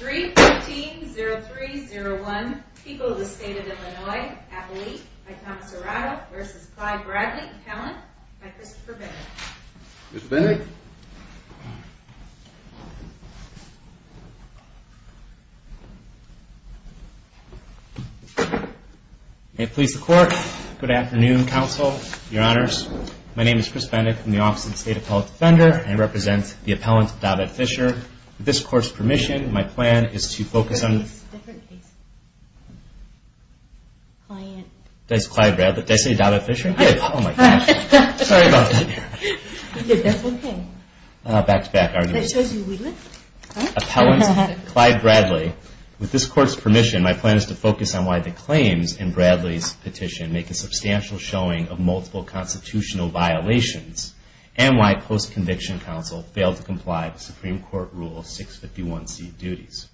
314-0301, People of the State of Illinois, Appellate, by Thomas Arado, v. Clyde Bradley, Appellant, by Christopher Bennett. Mr. Bennett? May it please the Court, good afternoon, Counsel, Your Honors. My name is Chris Bennett from the Office of the State Appellate Defender, and I represent the Appellant, David Fisher. With this Court's permission, my plan is to focus on... That's a different case. Client. That's Clyde Bradley. Did I say David Fisher? Yes. Oh, my gosh. Sorry about that. That's okay. Back-to-back argument. That shows you wouldn't. Appellant, Clyde Bradley. With this Court's permission, my plan is to focus on why the claims in Bradley's petition make a substantial showing of multiple constitutional violations, and why post-conviction counsel failed to comply with Supreme Court Rule 651C duties.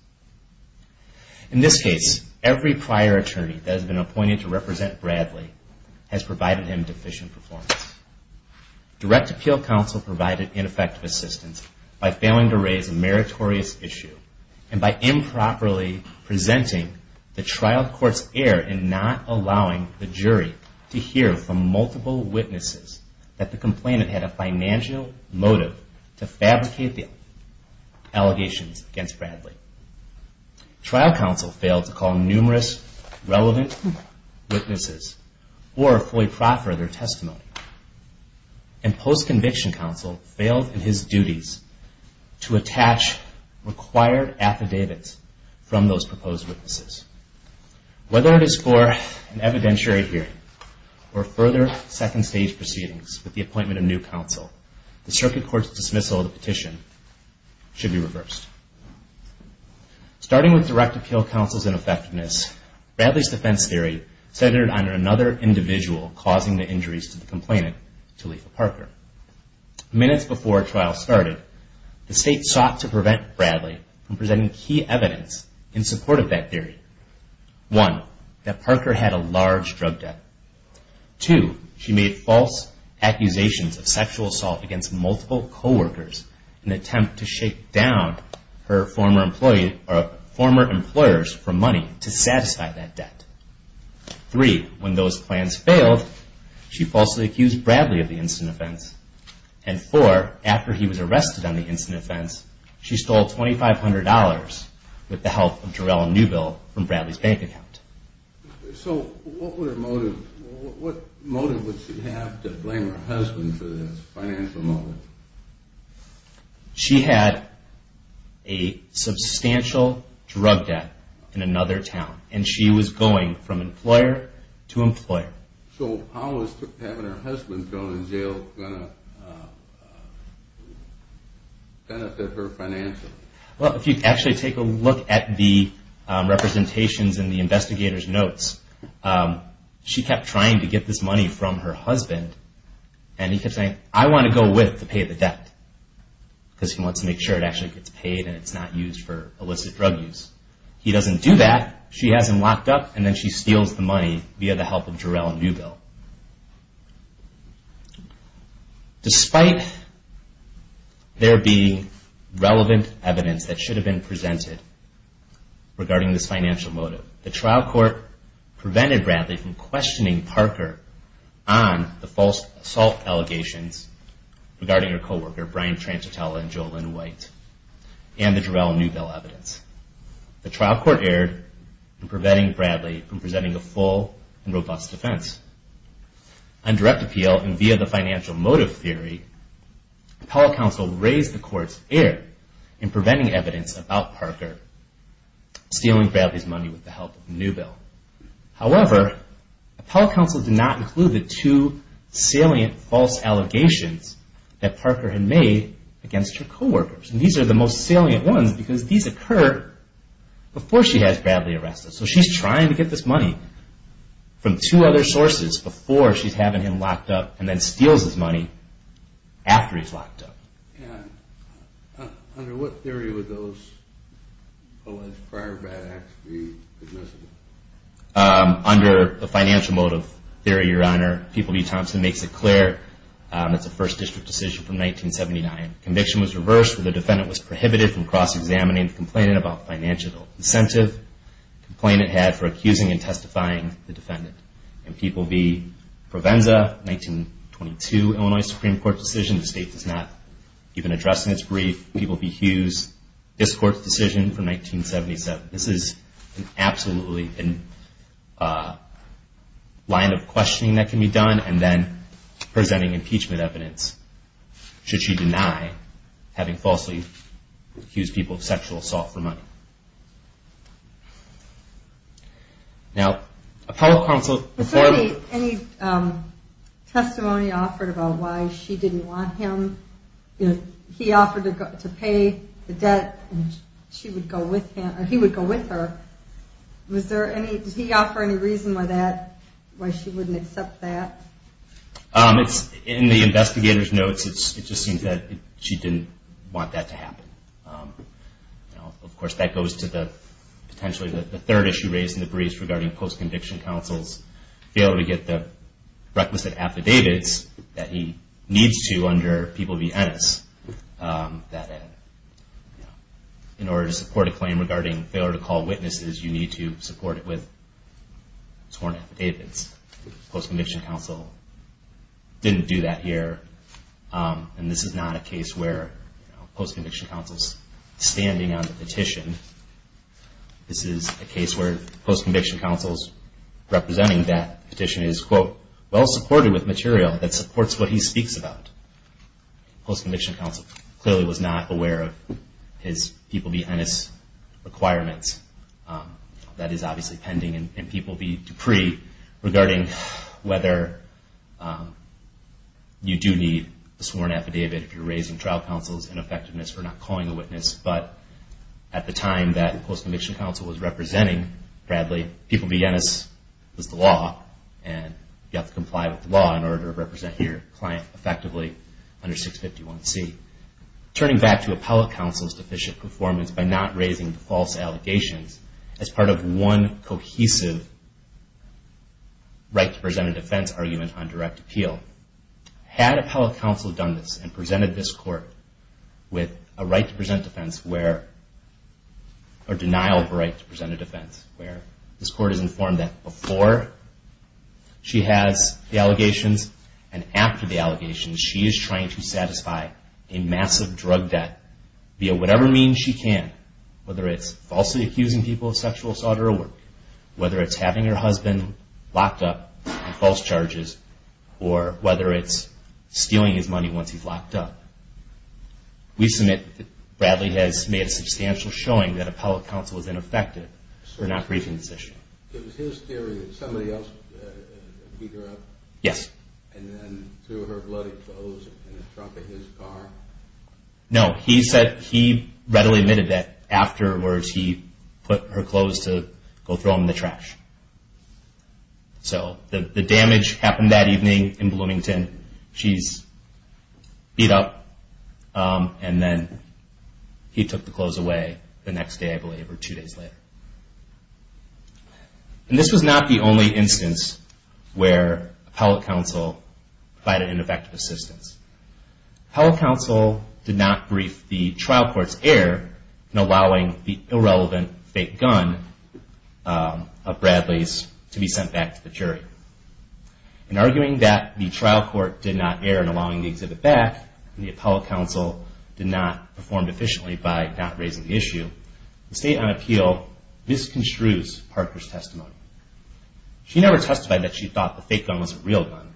In this case, every prior attorney that has been appointed to represent Bradley has provided him deficient performance. Direct appeal counsel provided ineffective assistance by failing to raise a meritorious issue, and by improperly presenting the trial court's error in not allowing the jury to hear from multiple witnesses that the complainant had a financial motive to fabricate the allegations against Bradley. Trial counsel failed to call numerous relevant witnesses or fully proffer their testimony. And post-conviction counsel failed in his duties to attach required affidavits from those proposed witnesses. Whether it is for an evidentiary hearing or further second-stage proceedings with the appointment of new counsel, the circuit court's dismissal of the petition should be reversed. Starting with direct appeal counsel's ineffectiveness, Bradley's defense theory centered on another individual causing the injuries to the complainant, Talitha Parker. Minutes before a trial started, the state sought to prevent Bradley from presenting key evidence in support of that theory. One, that Parker had a large drug debt. Two, she made false accusations of sexual assault against multiple co-workers in an attempt to shake down her former employers for money to satisfy that debt. Three, when those plans failed, she falsely accused Bradley of the incident offense. And four, after he was arrested on the incident offense, she stole $2,500 with the help of Jarell Newbill from Bradley's bank account. So what motive would she have to blame her husband for this financial motive? She had a substantial drug debt in another town, and she was going from employer to employer. So how was having her husband thrown in jail going to benefit her financially? Well, if you actually take a look at the representations in the investigator's notes, she kept trying to get this money from her husband, and he kept saying, I want to go with to pay the debt, because he wants to make sure it actually gets paid and it's not used for illicit drug use. He doesn't do that. She has him locked up, and then she steals the money via the help of Jarell Newbill. Despite there being relevant evidence that should have been presented regarding this financial motive, the trial court prevented Bradley from questioning Parker on the false assault allegations regarding her co-worker, Brian Trancitella and JoLynn White, and the Jarell Newbill evidence. The trial court erred in preventing Bradley from presenting a full and robust defense. On direct appeal and via the financial motive theory, appellate counsel raised the court's error in preventing evidence about Parker stealing Bradley's money with the help of Newbill. However, appellate counsel did not include the two salient false allegations that Parker had made against her co-workers. These are the most salient ones because these occur before she has Bradley arrested. So she's trying to get this money from two other sources before she's having him locked up, and then steals his money after he's locked up. Under what theory would those alleged prior bad acts be admissible? Under the financial motive theory, Your Honor. People v. Thompson makes it clear. It's a First District decision from 1979. The conviction was reversed. The defendant was prohibited from cross-examining the complainant about financial incentive the complainant had for accusing and testifying the defendant. People v. Provenza, 1922 Illinois Supreme Court decision. The State does not even address in its brief. People v. Hughes, this Court's decision from 1977. This is absolutely a line of questioning that can be done, and then presenting impeachment evidence. Should she deny having falsely accused people of sexual assault for money? Now, appellate counsel before the... Before any testimony offered about why she didn't want him, he offered to pay the debt and she would go with him, or he would go with her. Was there any, did he offer any reason why that, why she wouldn't accept that? In the investigator's notes, it just seems that she didn't want that to happen. Now, of course, that goes to potentially the third issue raised in the brief regarding post-conviction counsel's failure to get the requisite affidavits that he needs to under People v. Ennis. That in order to support a claim regarding failure to call witnesses, you need to support it with sworn affidavits. Post-conviction counsel didn't do that here, and this is not a case where post-conviction counsel's standing on the petition. This is a case where post-conviction counsel's representing that petition is, quote, well-supported with material that supports what he speaks about. Post-conviction counsel clearly was not aware of his People v. Ennis requirements, that is obviously pending in People v. Dupree, regarding whether you do need a sworn affidavit if you're raising trial counsel's ineffectiveness for not calling a witness. But at the time that post-conviction counsel was representing Bradley, People v. Ennis was the law, and you have to comply with the law in order to represent your client effectively under 651C. Turning back to appellate counsel's deficient performance by not raising false allegations as part of one cohesive right to present a defense argument on direct appeal. Had appellate counsel done this and presented this court with a right to present defense where, or denial of right to present a defense, where this court is informed that before she has the allegations and after the allegations, she is trying to satisfy a massive drug debt via whatever means she can, whether it's falsely accusing people of sexual assault or a work, whether it's having her husband locked up on false charges, or whether it's stealing his money once he's locked up. We submit that Bradley has made a substantial showing that appellate counsel was ineffective for not briefing this issue. It was his theory that somebody else beat her up? Yes. And then threw her bloody clothes in the trunk of his car? No, he said he readily admitted that afterwards he put her clothes to go throw them in the trash. So the damage happened that evening in Bloomington. She's beat up and then he took the clothes away the next day, I believe, or two days later. And this was not the only instance where appellate counsel provided ineffective assistance. Appellate counsel did not brief the trial court's heir in allowing the irrelevant fake gun of Bradley's In arguing that the trial court did not err in allowing the exhibit back, and the appellate counsel did not perform efficiently by not raising the issue, the state on appeal misconstrues Parker's testimony. She never testified that she thought the fake gun was a real gun,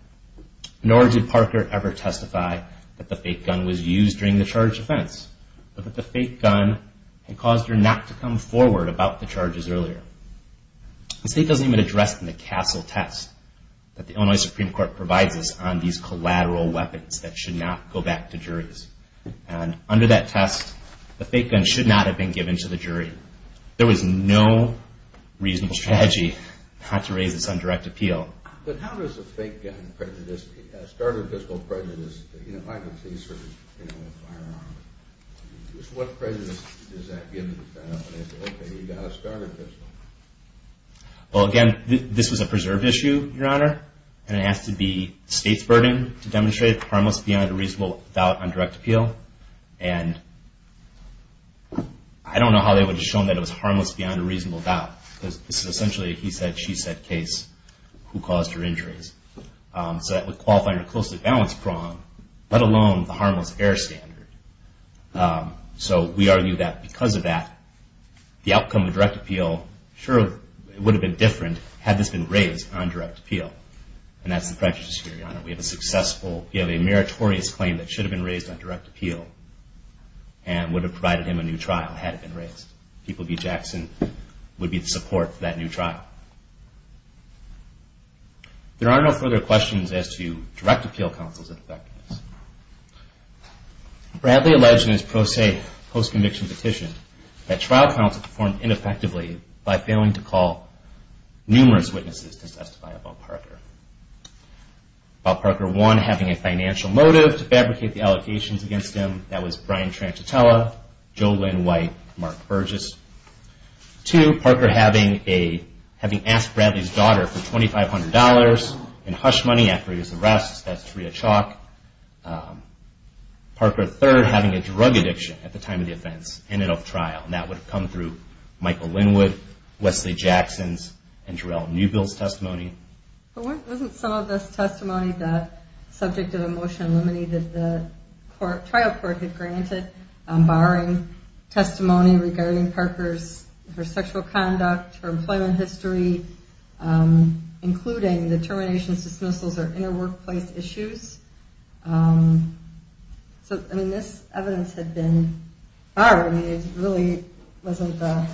nor did Parker ever testify that the fake gun was used during the charged offense, but that the fake gun had caused her not to come forward about the charges earlier. The state doesn't even address in the Castle test that the Illinois Supreme Court provides us on these collateral weapons that should not go back to juries. And under that test, the fake gun should not have been given to the jury. There was no reasonable strategy not to raise this on direct appeal. But how does a fake gun prejudice, a starter pistol prejudice, you know, Well, again, this was a preserved issue, Your Honor, and it has to be the state's burden to demonstrate it's harmless beyond a reasonable doubt on direct appeal. And I don't know how they would have shown that it was harmless beyond a reasonable doubt, because this is essentially a he said, she said case, who caused her injuries. So that would qualify her closely balanced prong, let alone the harmless error standard. So we argue that because of that, the outcome of direct appeal sure would have been different had this been raised on direct appeal. And that's the prejudice here, Your Honor. We have a successful, we have a meritorious claim that should have been raised on direct appeal and would have provided him a new trial had it been raised. People v. Jackson would be the support for that new trial. There are no further questions as to direct appeal counsel's effectiveness. Bradley alleged in his pro se post-conviction petition that trial counsel performed ineffectively by failing to call numerous witnesses to testify about Parker. About Parker, one, having a financial motive to fabricate the allegations against him, that was Brian Tranchitella, Joe Lynn White, Mark Burgess. Two, Parker having asked Bradley's daughter for $2,500 in hush money after his arrest, that's Taria Chalk. Parker, third, having a drug addiction at the time of the offense and of trial, and that would have come through Michael Linwood, Wesley Jackson's, and Jarell Newbill's testimony. But wasn't some of this testimony that, subject to the motion eliminated, that the trial court had granted barring testimony regarding Parker's, her sexual conduct, her employment history, including the termination, dismissals, or inter-workplace issues? So, I mean, this evidence had been barred. I mean, it really wasn't the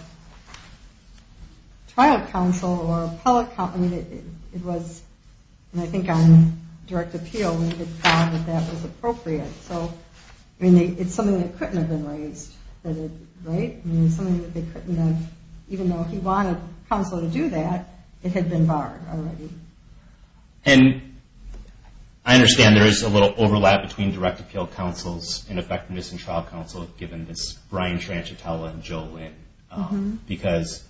trial counsel or public, I mean, it was, and I think on direct appeal, we had found that that was appropriate. So, I mean, it's something that couldn't have been raised, right? I mean, it's something that they couldn't have, even though he wanted counsel to do that, it had been barred already. And I understand there is a little overlap between direct appeal counsels and effectiveness in trial counsel, given this Brian Tranchitella and Joe Lynn, because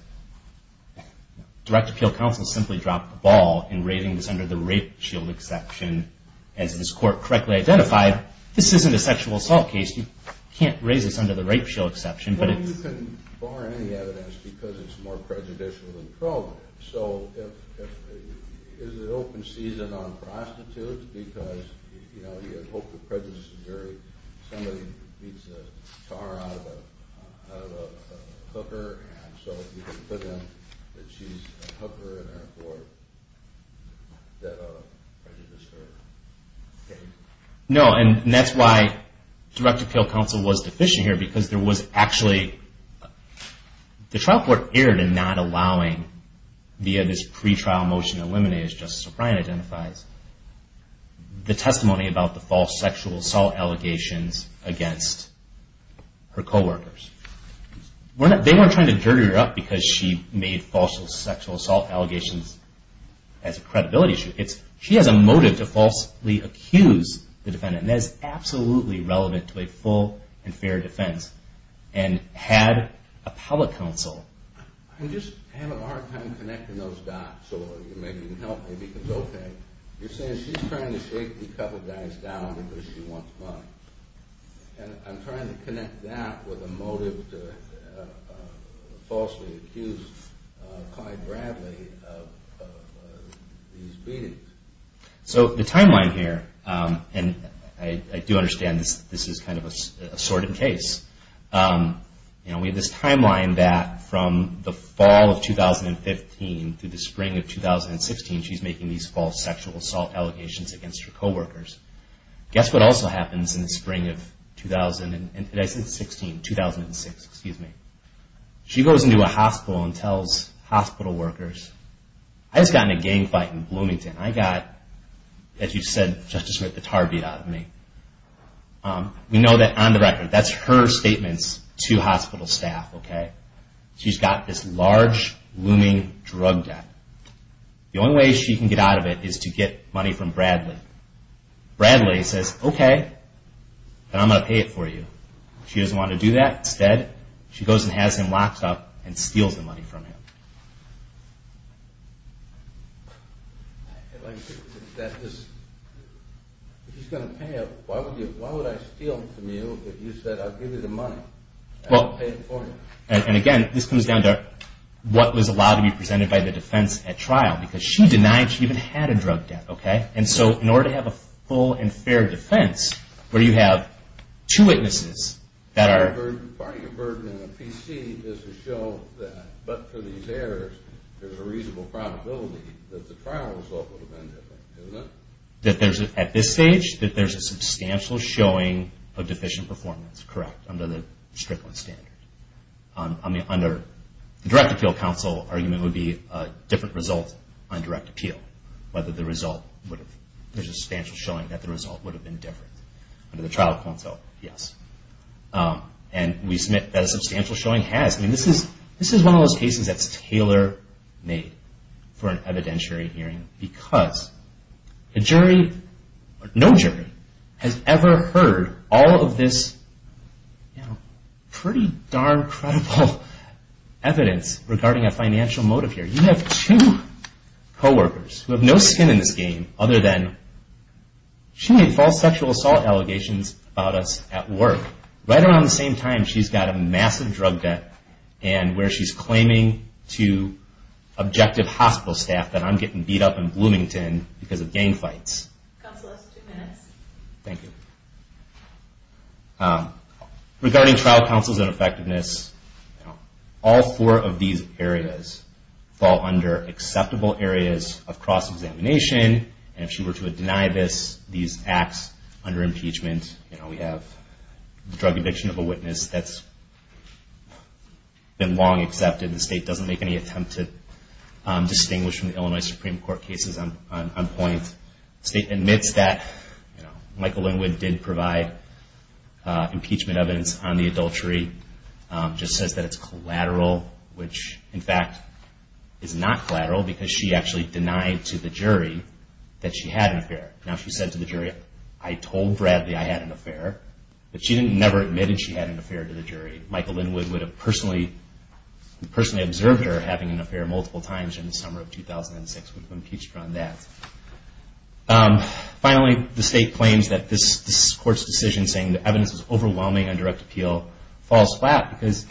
direct appeal counsel simply dropped the ball in raising this under the rape shield exception. As this court correctly identified, this isn't a sexual assault case. You can't raise this under the rape shield exception, but it's... Well, you can bar any evidence because it's more prejudicial than pro. So, is it open season on prostitutes because, you know, she's a hooker, and so you can put in that she's a hooker in her court, that prejudices her case? No, and that's why direct appeal counsel was deficient here, because there was actually... The trial court erred in not allowing, via this pretrial motion eliminated, as Justice O'Brien identifies, the testimony about the false sexual assault allegations against her coworkers. They weren't trying to dirty her up because she made false sexual assault allegations as a credibility issue. She has a motive to falsely accuse the defendant, and that is absolutely relevant to a full and fair defense. And had a public counsel... I'm just having a hard time connecting those dots, so maybe you can help me, because, okay, you're saying she's trying to shake a couple guys down because she wants money. And I'm trying to connect that with a motive to falsely accuse Clyde Bradley of these beatings. So, the timeline here, and I do understand this is kind of a sordid case. You know, we have this timeline that from the fall of 2015 through the spring of 2016, she's making these false sexual assault allegations against her coworkers. Guess what also happens in the spring of 2016? She goes into a hospital and tells hospital workers, I just got in a gang fight in Bloomington. I got, as you said, Justice Smith, the tar beat out of me. We know that on the record, that's her statements to hospital staff. She's got this large, looming drug debt. The only way she can get out of it is to get money from Bradley. Bradley says, okay, then I'm going to pay it for you. She doesn't want to do that. Instead, she goes and has him locked up and steals the money from him. And again, this comes down to what was allowed to be presented by the defense at trial, because she denied she even had a drug debt. And so in order to have a full and fair defense, where you have two witnesses that are... Part of your burden in the PC is to show that, but for these errors, there's a reasonable probability that the trial result would have been different. Isn't it? That there's, at this stage, that there's a substantial showing of deficient performance, correct, under the Strickland standard. I mean, under the Direct Appeal Counsel argument would be a different result on direct appeal, whether the result would have... There's a substantial showing that the result would have been different. Under the trial counsel, yes. And we submit that a substantial showing has. I mean, this is one of those cases that's tailor-made for an evidentiary hearing, because a jury, or no jury, has ever heard all of this pretty darn credible evidence regarding a financial motive here. You have two co-workers who have no skin in this game other than she made false sexual assault allegations about us at work. Right around the same time, she's got a massive drug debt and where she's claiming to objective hospital staff that I'm getting beat up in Bloomington because of gang fights. Counsel, that's two minutes. Thank you. Regarding trial counsel's ineffectiveness, all four of these areas fall under acceptable areas of cross-examination. And if she were to deny these acts under impeachment, we have the drug addiction of a witness that's been long accepted. The state doesn't make any attempt to distinguish from the Illinois Supreme Court cases on point. The state admits that. Michael Linwood did provide impeachment evidence on the adultery. Just says that it's collateral, which, in fact, is not collateral because she actually denied to the jury that she had an affair. Now, she said to the jury, I told Bradley I had an affair, but she never admitted she had an affair to the jury. Michael Linwood would have personally observed her having an affair multiple times in the summer of 2006 when he impeached her on that. Finally, the state claims that this court's decision saying the evidence is overwhelming on direct appeal falls flat because,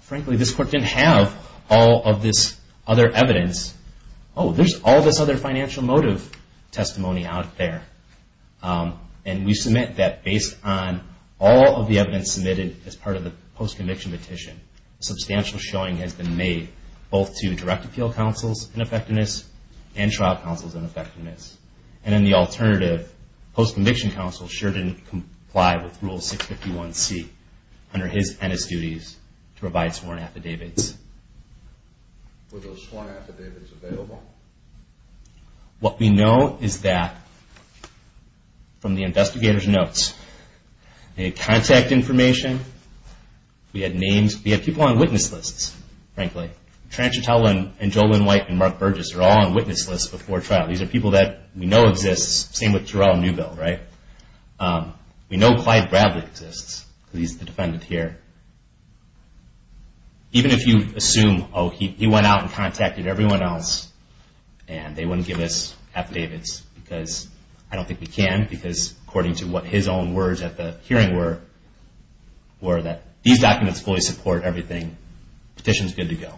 frankly, this court didn't have all of this other evidence. Oh, there's all this other financial motive testimony out there. And we submit that based on all of the evidence submitted as part of the post-conviction petition, substantial showing has been made both to direct appeal counsel's ineffectiveness and trial counsel's ineffectiveness. And then the alternative, post-conviction counsel sure didn't comply with Rule 651C under his and his duties to provide sworn affidavits. Were those sworn affidavits available? What we know is that, from the investigator's notes, they had contact information. We had names. We had people on witness lists, frankly. Transchutella and JoLynn White and Mark Burgess are all on witness lists before trial. These are people that we know exist. Same with Jarrell Newbill, right? We know Clyde Bradley exists. He's the defendant here. Even if you assume, oh, he went out and contacted everyone else and they wouldn't give us affidavits because I don't think we can because according to what his own words at the hearing were, were that these documents fully support everything. Petition's good to go.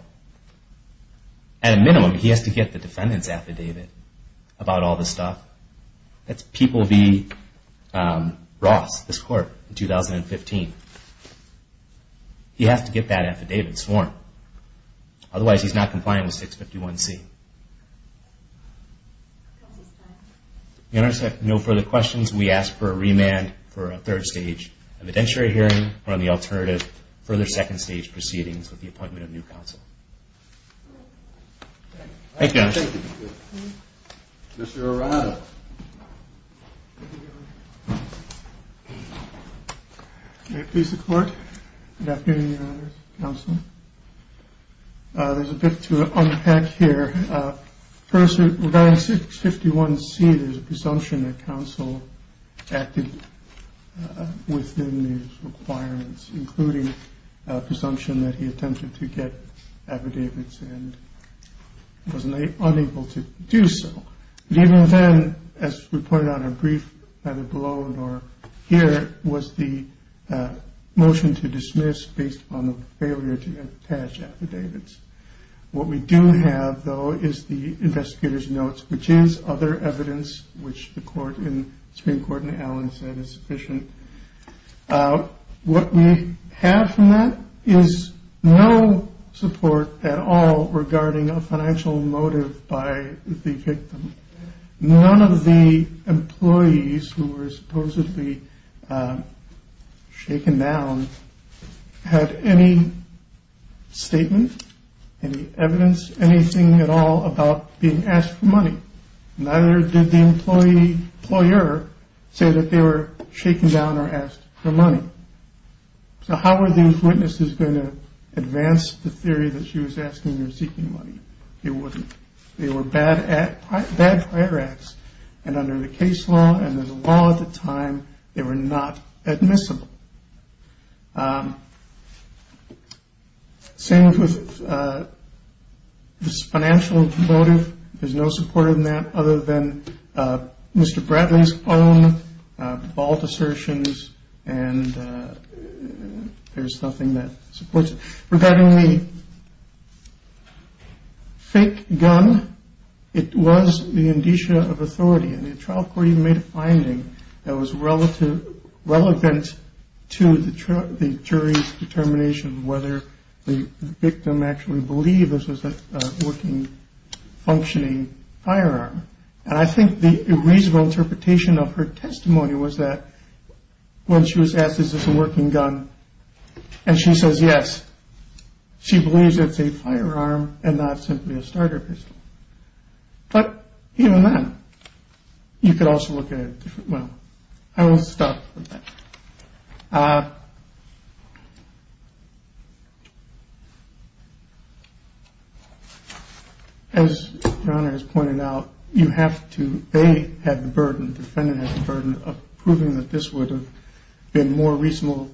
At a minimum, he has to get the defendant's affidavit about all this stuff. That's People v. Ross, this court, in 2015. He has to get that affidavit sworn. Otherwise, he's not compliant with 651C. If there are no further questions, we ask for a remand for a third stage evidentiary hearing or, on the alternative, further second stage proceedings with the appointment of new counsel. Thank you. Thank you. Mr. Arado. May it please the Court. Good afternoon, Your Honors. Counsel. There's a bit to unpack here. First, regarding 651C, there's a presumption that counsel acted within these requirements, including a presumption that he attempted to get affidavits and was unable to do so. Even then, as we pointed out in brief either below or here, was the motion to dismiss based on the failure to attach affidavits. What we do have, though, is the investigator's notes, which is other evidence which the Supreme Court in Allen said is sufficient. What we have from that is no support at all regarding a financial motive by the victim. None of the employees who were supposedly shaken down had any statement, any evidence, anything at all about being asked for money. Neither did the employer say that they were shaken down or asked for money. So how were these witnesses going to advance the theory that she was asking or seeking money? They wouldn't. They were bad fire acts, and under the case law and the law at the time, they were not admissible. Same with this financial motive. There's no support in that other than Mr. Bradley's own bald assertions, and there's nothing that supports it. Regarding the fake gun, it was the indicia of authority, and the trial court even made a finding that was relevant to the jury's determination of whether the victim actually believed this was a working, functioning firearm. And I think the reasonable interpretation of her testimony was that when she was asked, is this a working gun, and she says yes, she believes it's a firearm and not simply a starter pistol. But even then, you could also look at it differently. Well, I will stop with that. As Your Honor has pointed out, you have to, they had the burden, the defendant had the burden of proving that this would have been more reasonable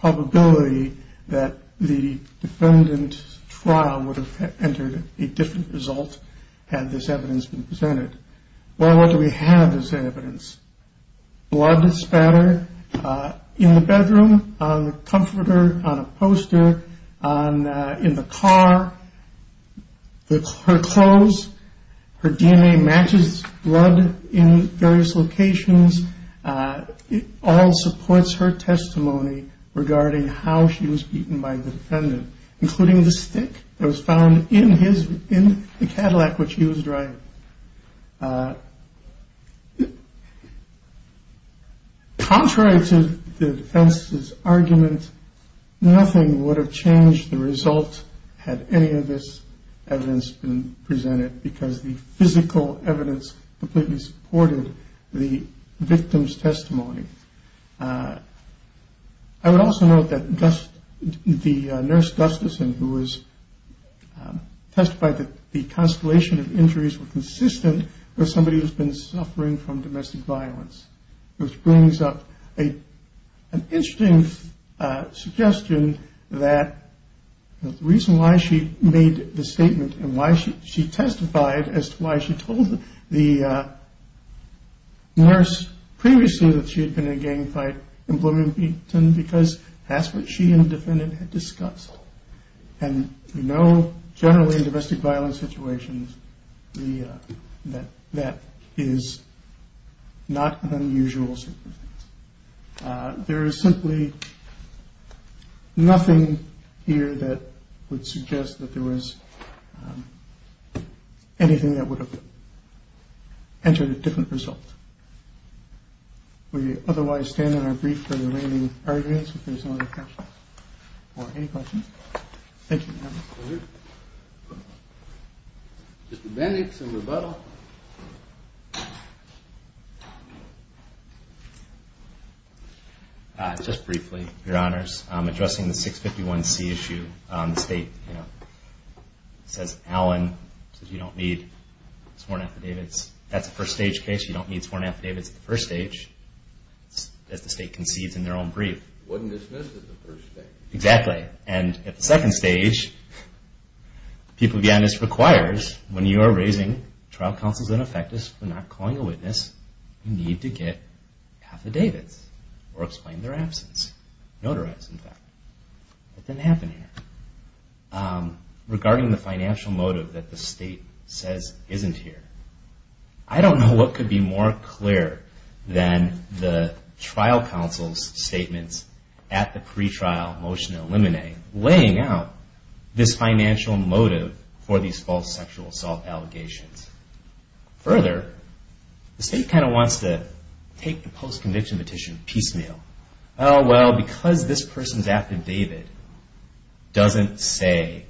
probability that the defendant's trial would have entered a different result had this evidence been presented. Well, what do we have as evidence? Blood spatter in the bedroom, on the comforter, on a poster, in the car. Her clothes, her DNA matches blood in various locations. It all supports her testimony regarding how she was beaten by the defendant, including the stick that was found in the Cadillac which she was driving. Contrary to the defense's argument, nothing would have changed the result had any of this evidence been presented because the physical evidence completely supported the victim's testimony. I would also note that the nurse Gustafson, who testified that the constellation of injuries were consistent with somebody who's been suffering from domestic violence, which brings up an interesting suggestion that the reason why she made the statement and why she testified as to why she told the nurse previously that she had been in a gang fight in Bloomington because that's what she and the defendant had discussed. And we know generally in domestic violence situations that that is not an unusual circumstance. There is simply nothing here that would suggest that there was anything that would have entered a different result. We otherwise stand on our brief for the remaining arguments if there's no other questions or any questions. Thank you, Your Honor. Thank you. Mr. Bennett, some rebuttal. Just briefly, Your Honors. Addressing the 651C issue, the state says, Allen, you don't need sworn affidavits. That's a first-stage case. You don't need sworn affidavits at the first stage, as the state concedes in their own brief. It wasn't dismissed at the first stage. Exactly. And at the second stage, the people behind this requires, when you are raising trial counsels in effectus for not calling a witness, you need to get affidavits or explain their absence, notarize, in fact. That didn't happen here. Regarding the financial motive that the state says isn't here, I don't know what could be more clear than the trial counsel's statements at the pre-trial motion to eliminate, laying out this financial motive for these false sexual assault allegations. Further, the state kind of wants to take the post-conviction petition piecemeal. Well, because this person's affidavit doesn't say,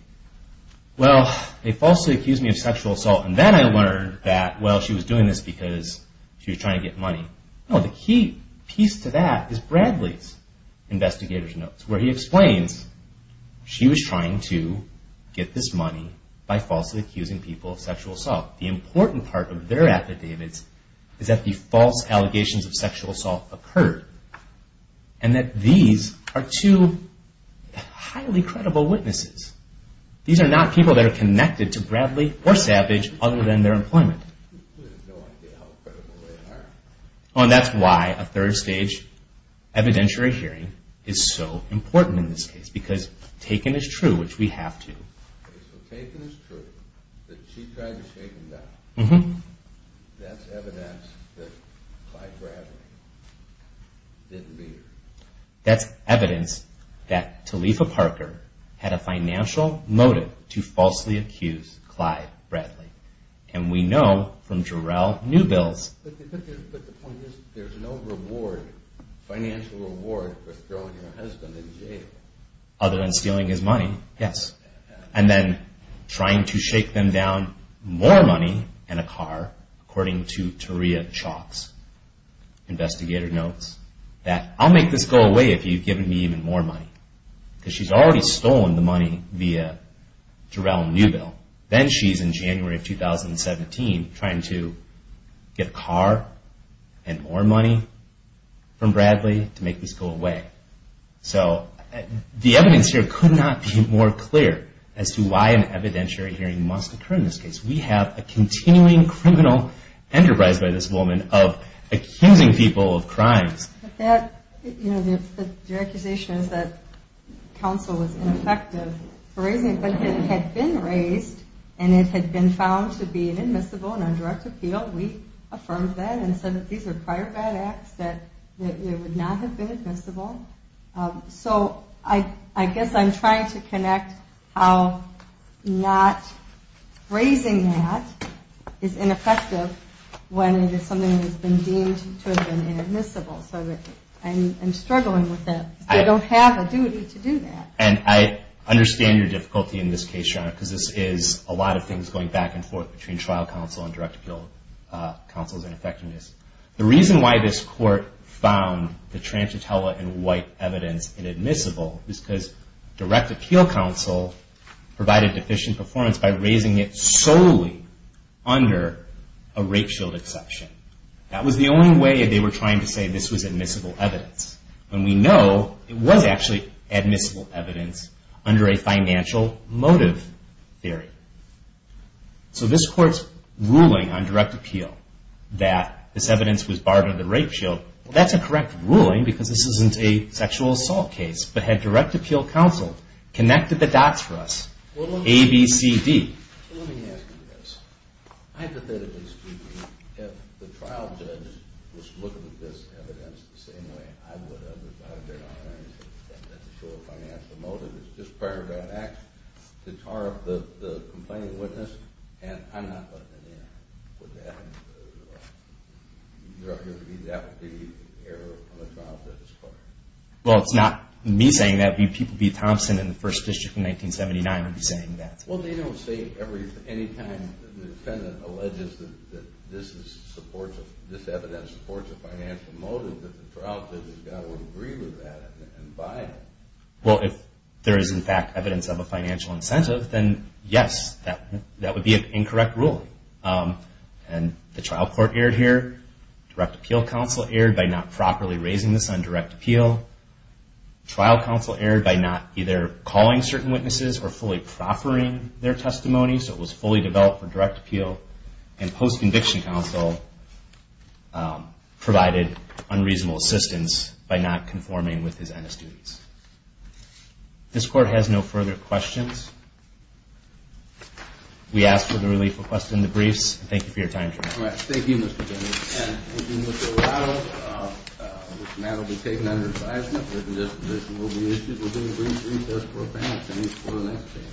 well, they falsely accused me of sexual assault, and then I learned that, well, she was doing this because she was trying to get money. No, the key piece to that is Bradley's investigator's notes, where he explains she was trying to get this money by falsely accusing people of sexual assault. The important part of their affidavits is that the false allegations of sexual assault occurred. And that these are two highly credible witnesses. These are not people that are connected to Bradley or Savage other than their employment. And that's why a third stage evidentiary hearing is so important in this case, because taken as true, which we have to. That's evidence that Talifa Parker had a financial motive to falsely accuse Clyde Bradley. And we know from Jarrell Newbill's... Other than stealing his money, yes. And then trying to shake them down more money and a car, according to Taria Chalk's investigator notes. That, I'll make this go away if you've given me even more money. Because she's already stolen the money via Jarrell Newbill. Then she's, in January of 2017, trying to get a car and more money from Bradley to make this go away. So the evidence here could not be more clear as to why an evidentiary hearing must occur in this case. We have a continuing criminal enterprise by this woman of accusing people of crimes. Your accusation is that counsel was ineffective for raising it. But it had been raised and it had been found to be inadmissible and on direct appeal. We affirmed that and said that these are prior bad acts, that it would not have been admissible. So I guess I'm trying to connect how not raising that is ineffective when it is something that has been deemed to have been inadmissible. So I'm struggling with that. I don't have a duty to do that. And I understand your difficulty in this case, Your Honor, because this is a lot of things going back and forth between trial counsel and direct appeal counsel's ineffectiveness. The reason why this court found the Tranchitella and White evidence inadmissible is because direct appeal counsel provided deficient performance by raising it solely under a rape shield exception. That was the only way they were trying to say this was admissible evidence. And we know it was actually admissible evidence under a financial motive theory. So this court's ruling on direct appeal that this evidence was barred under the rape shield, that's a correct ruling because this isn't a sexual assault case. But had direct appeal counsel connected the dots for us, A, B, C, D. Let me ask you this. Hypothetically speaking, if the trial judge was looking at this evidence the same way I would have, if I had been on there and said that's a show of financial motive, it's just prior to that act to tar up the complaining witness, and I'm not letting it in. Would that be the error on the trial judge's part? Well, it's not me saying that. B. Thompson in the First District in 1979 would be saying that. Well, they don't say any time the defendant alleges that this evidence supports a financial motive that the trial judge has got to agree with that and buy it. Well, if there is, in fact, evidence of a financial incentive, then yes, that would be an incorrect ruling. And the trial court erred here. Direct appeal counsel erred by not properly raising this on direct appeal. Trial counsel erred by not either calling certain witnesses or fully proffering their testimony, so it was fully developed for direct appeal. And post-conviction counsel provided unreasonable assistance by not conforming with his NS duties. This Court has no further questions. We ask for the relief requested in the briefs. Thank you for your time tonight. All right. Thank you, Mr. Jones. And thank you, Mr. Arado. This matter will be taken under advisement. A written disposition will be issued. We'll do a brief recess for the panel. Thank you for the next hearing.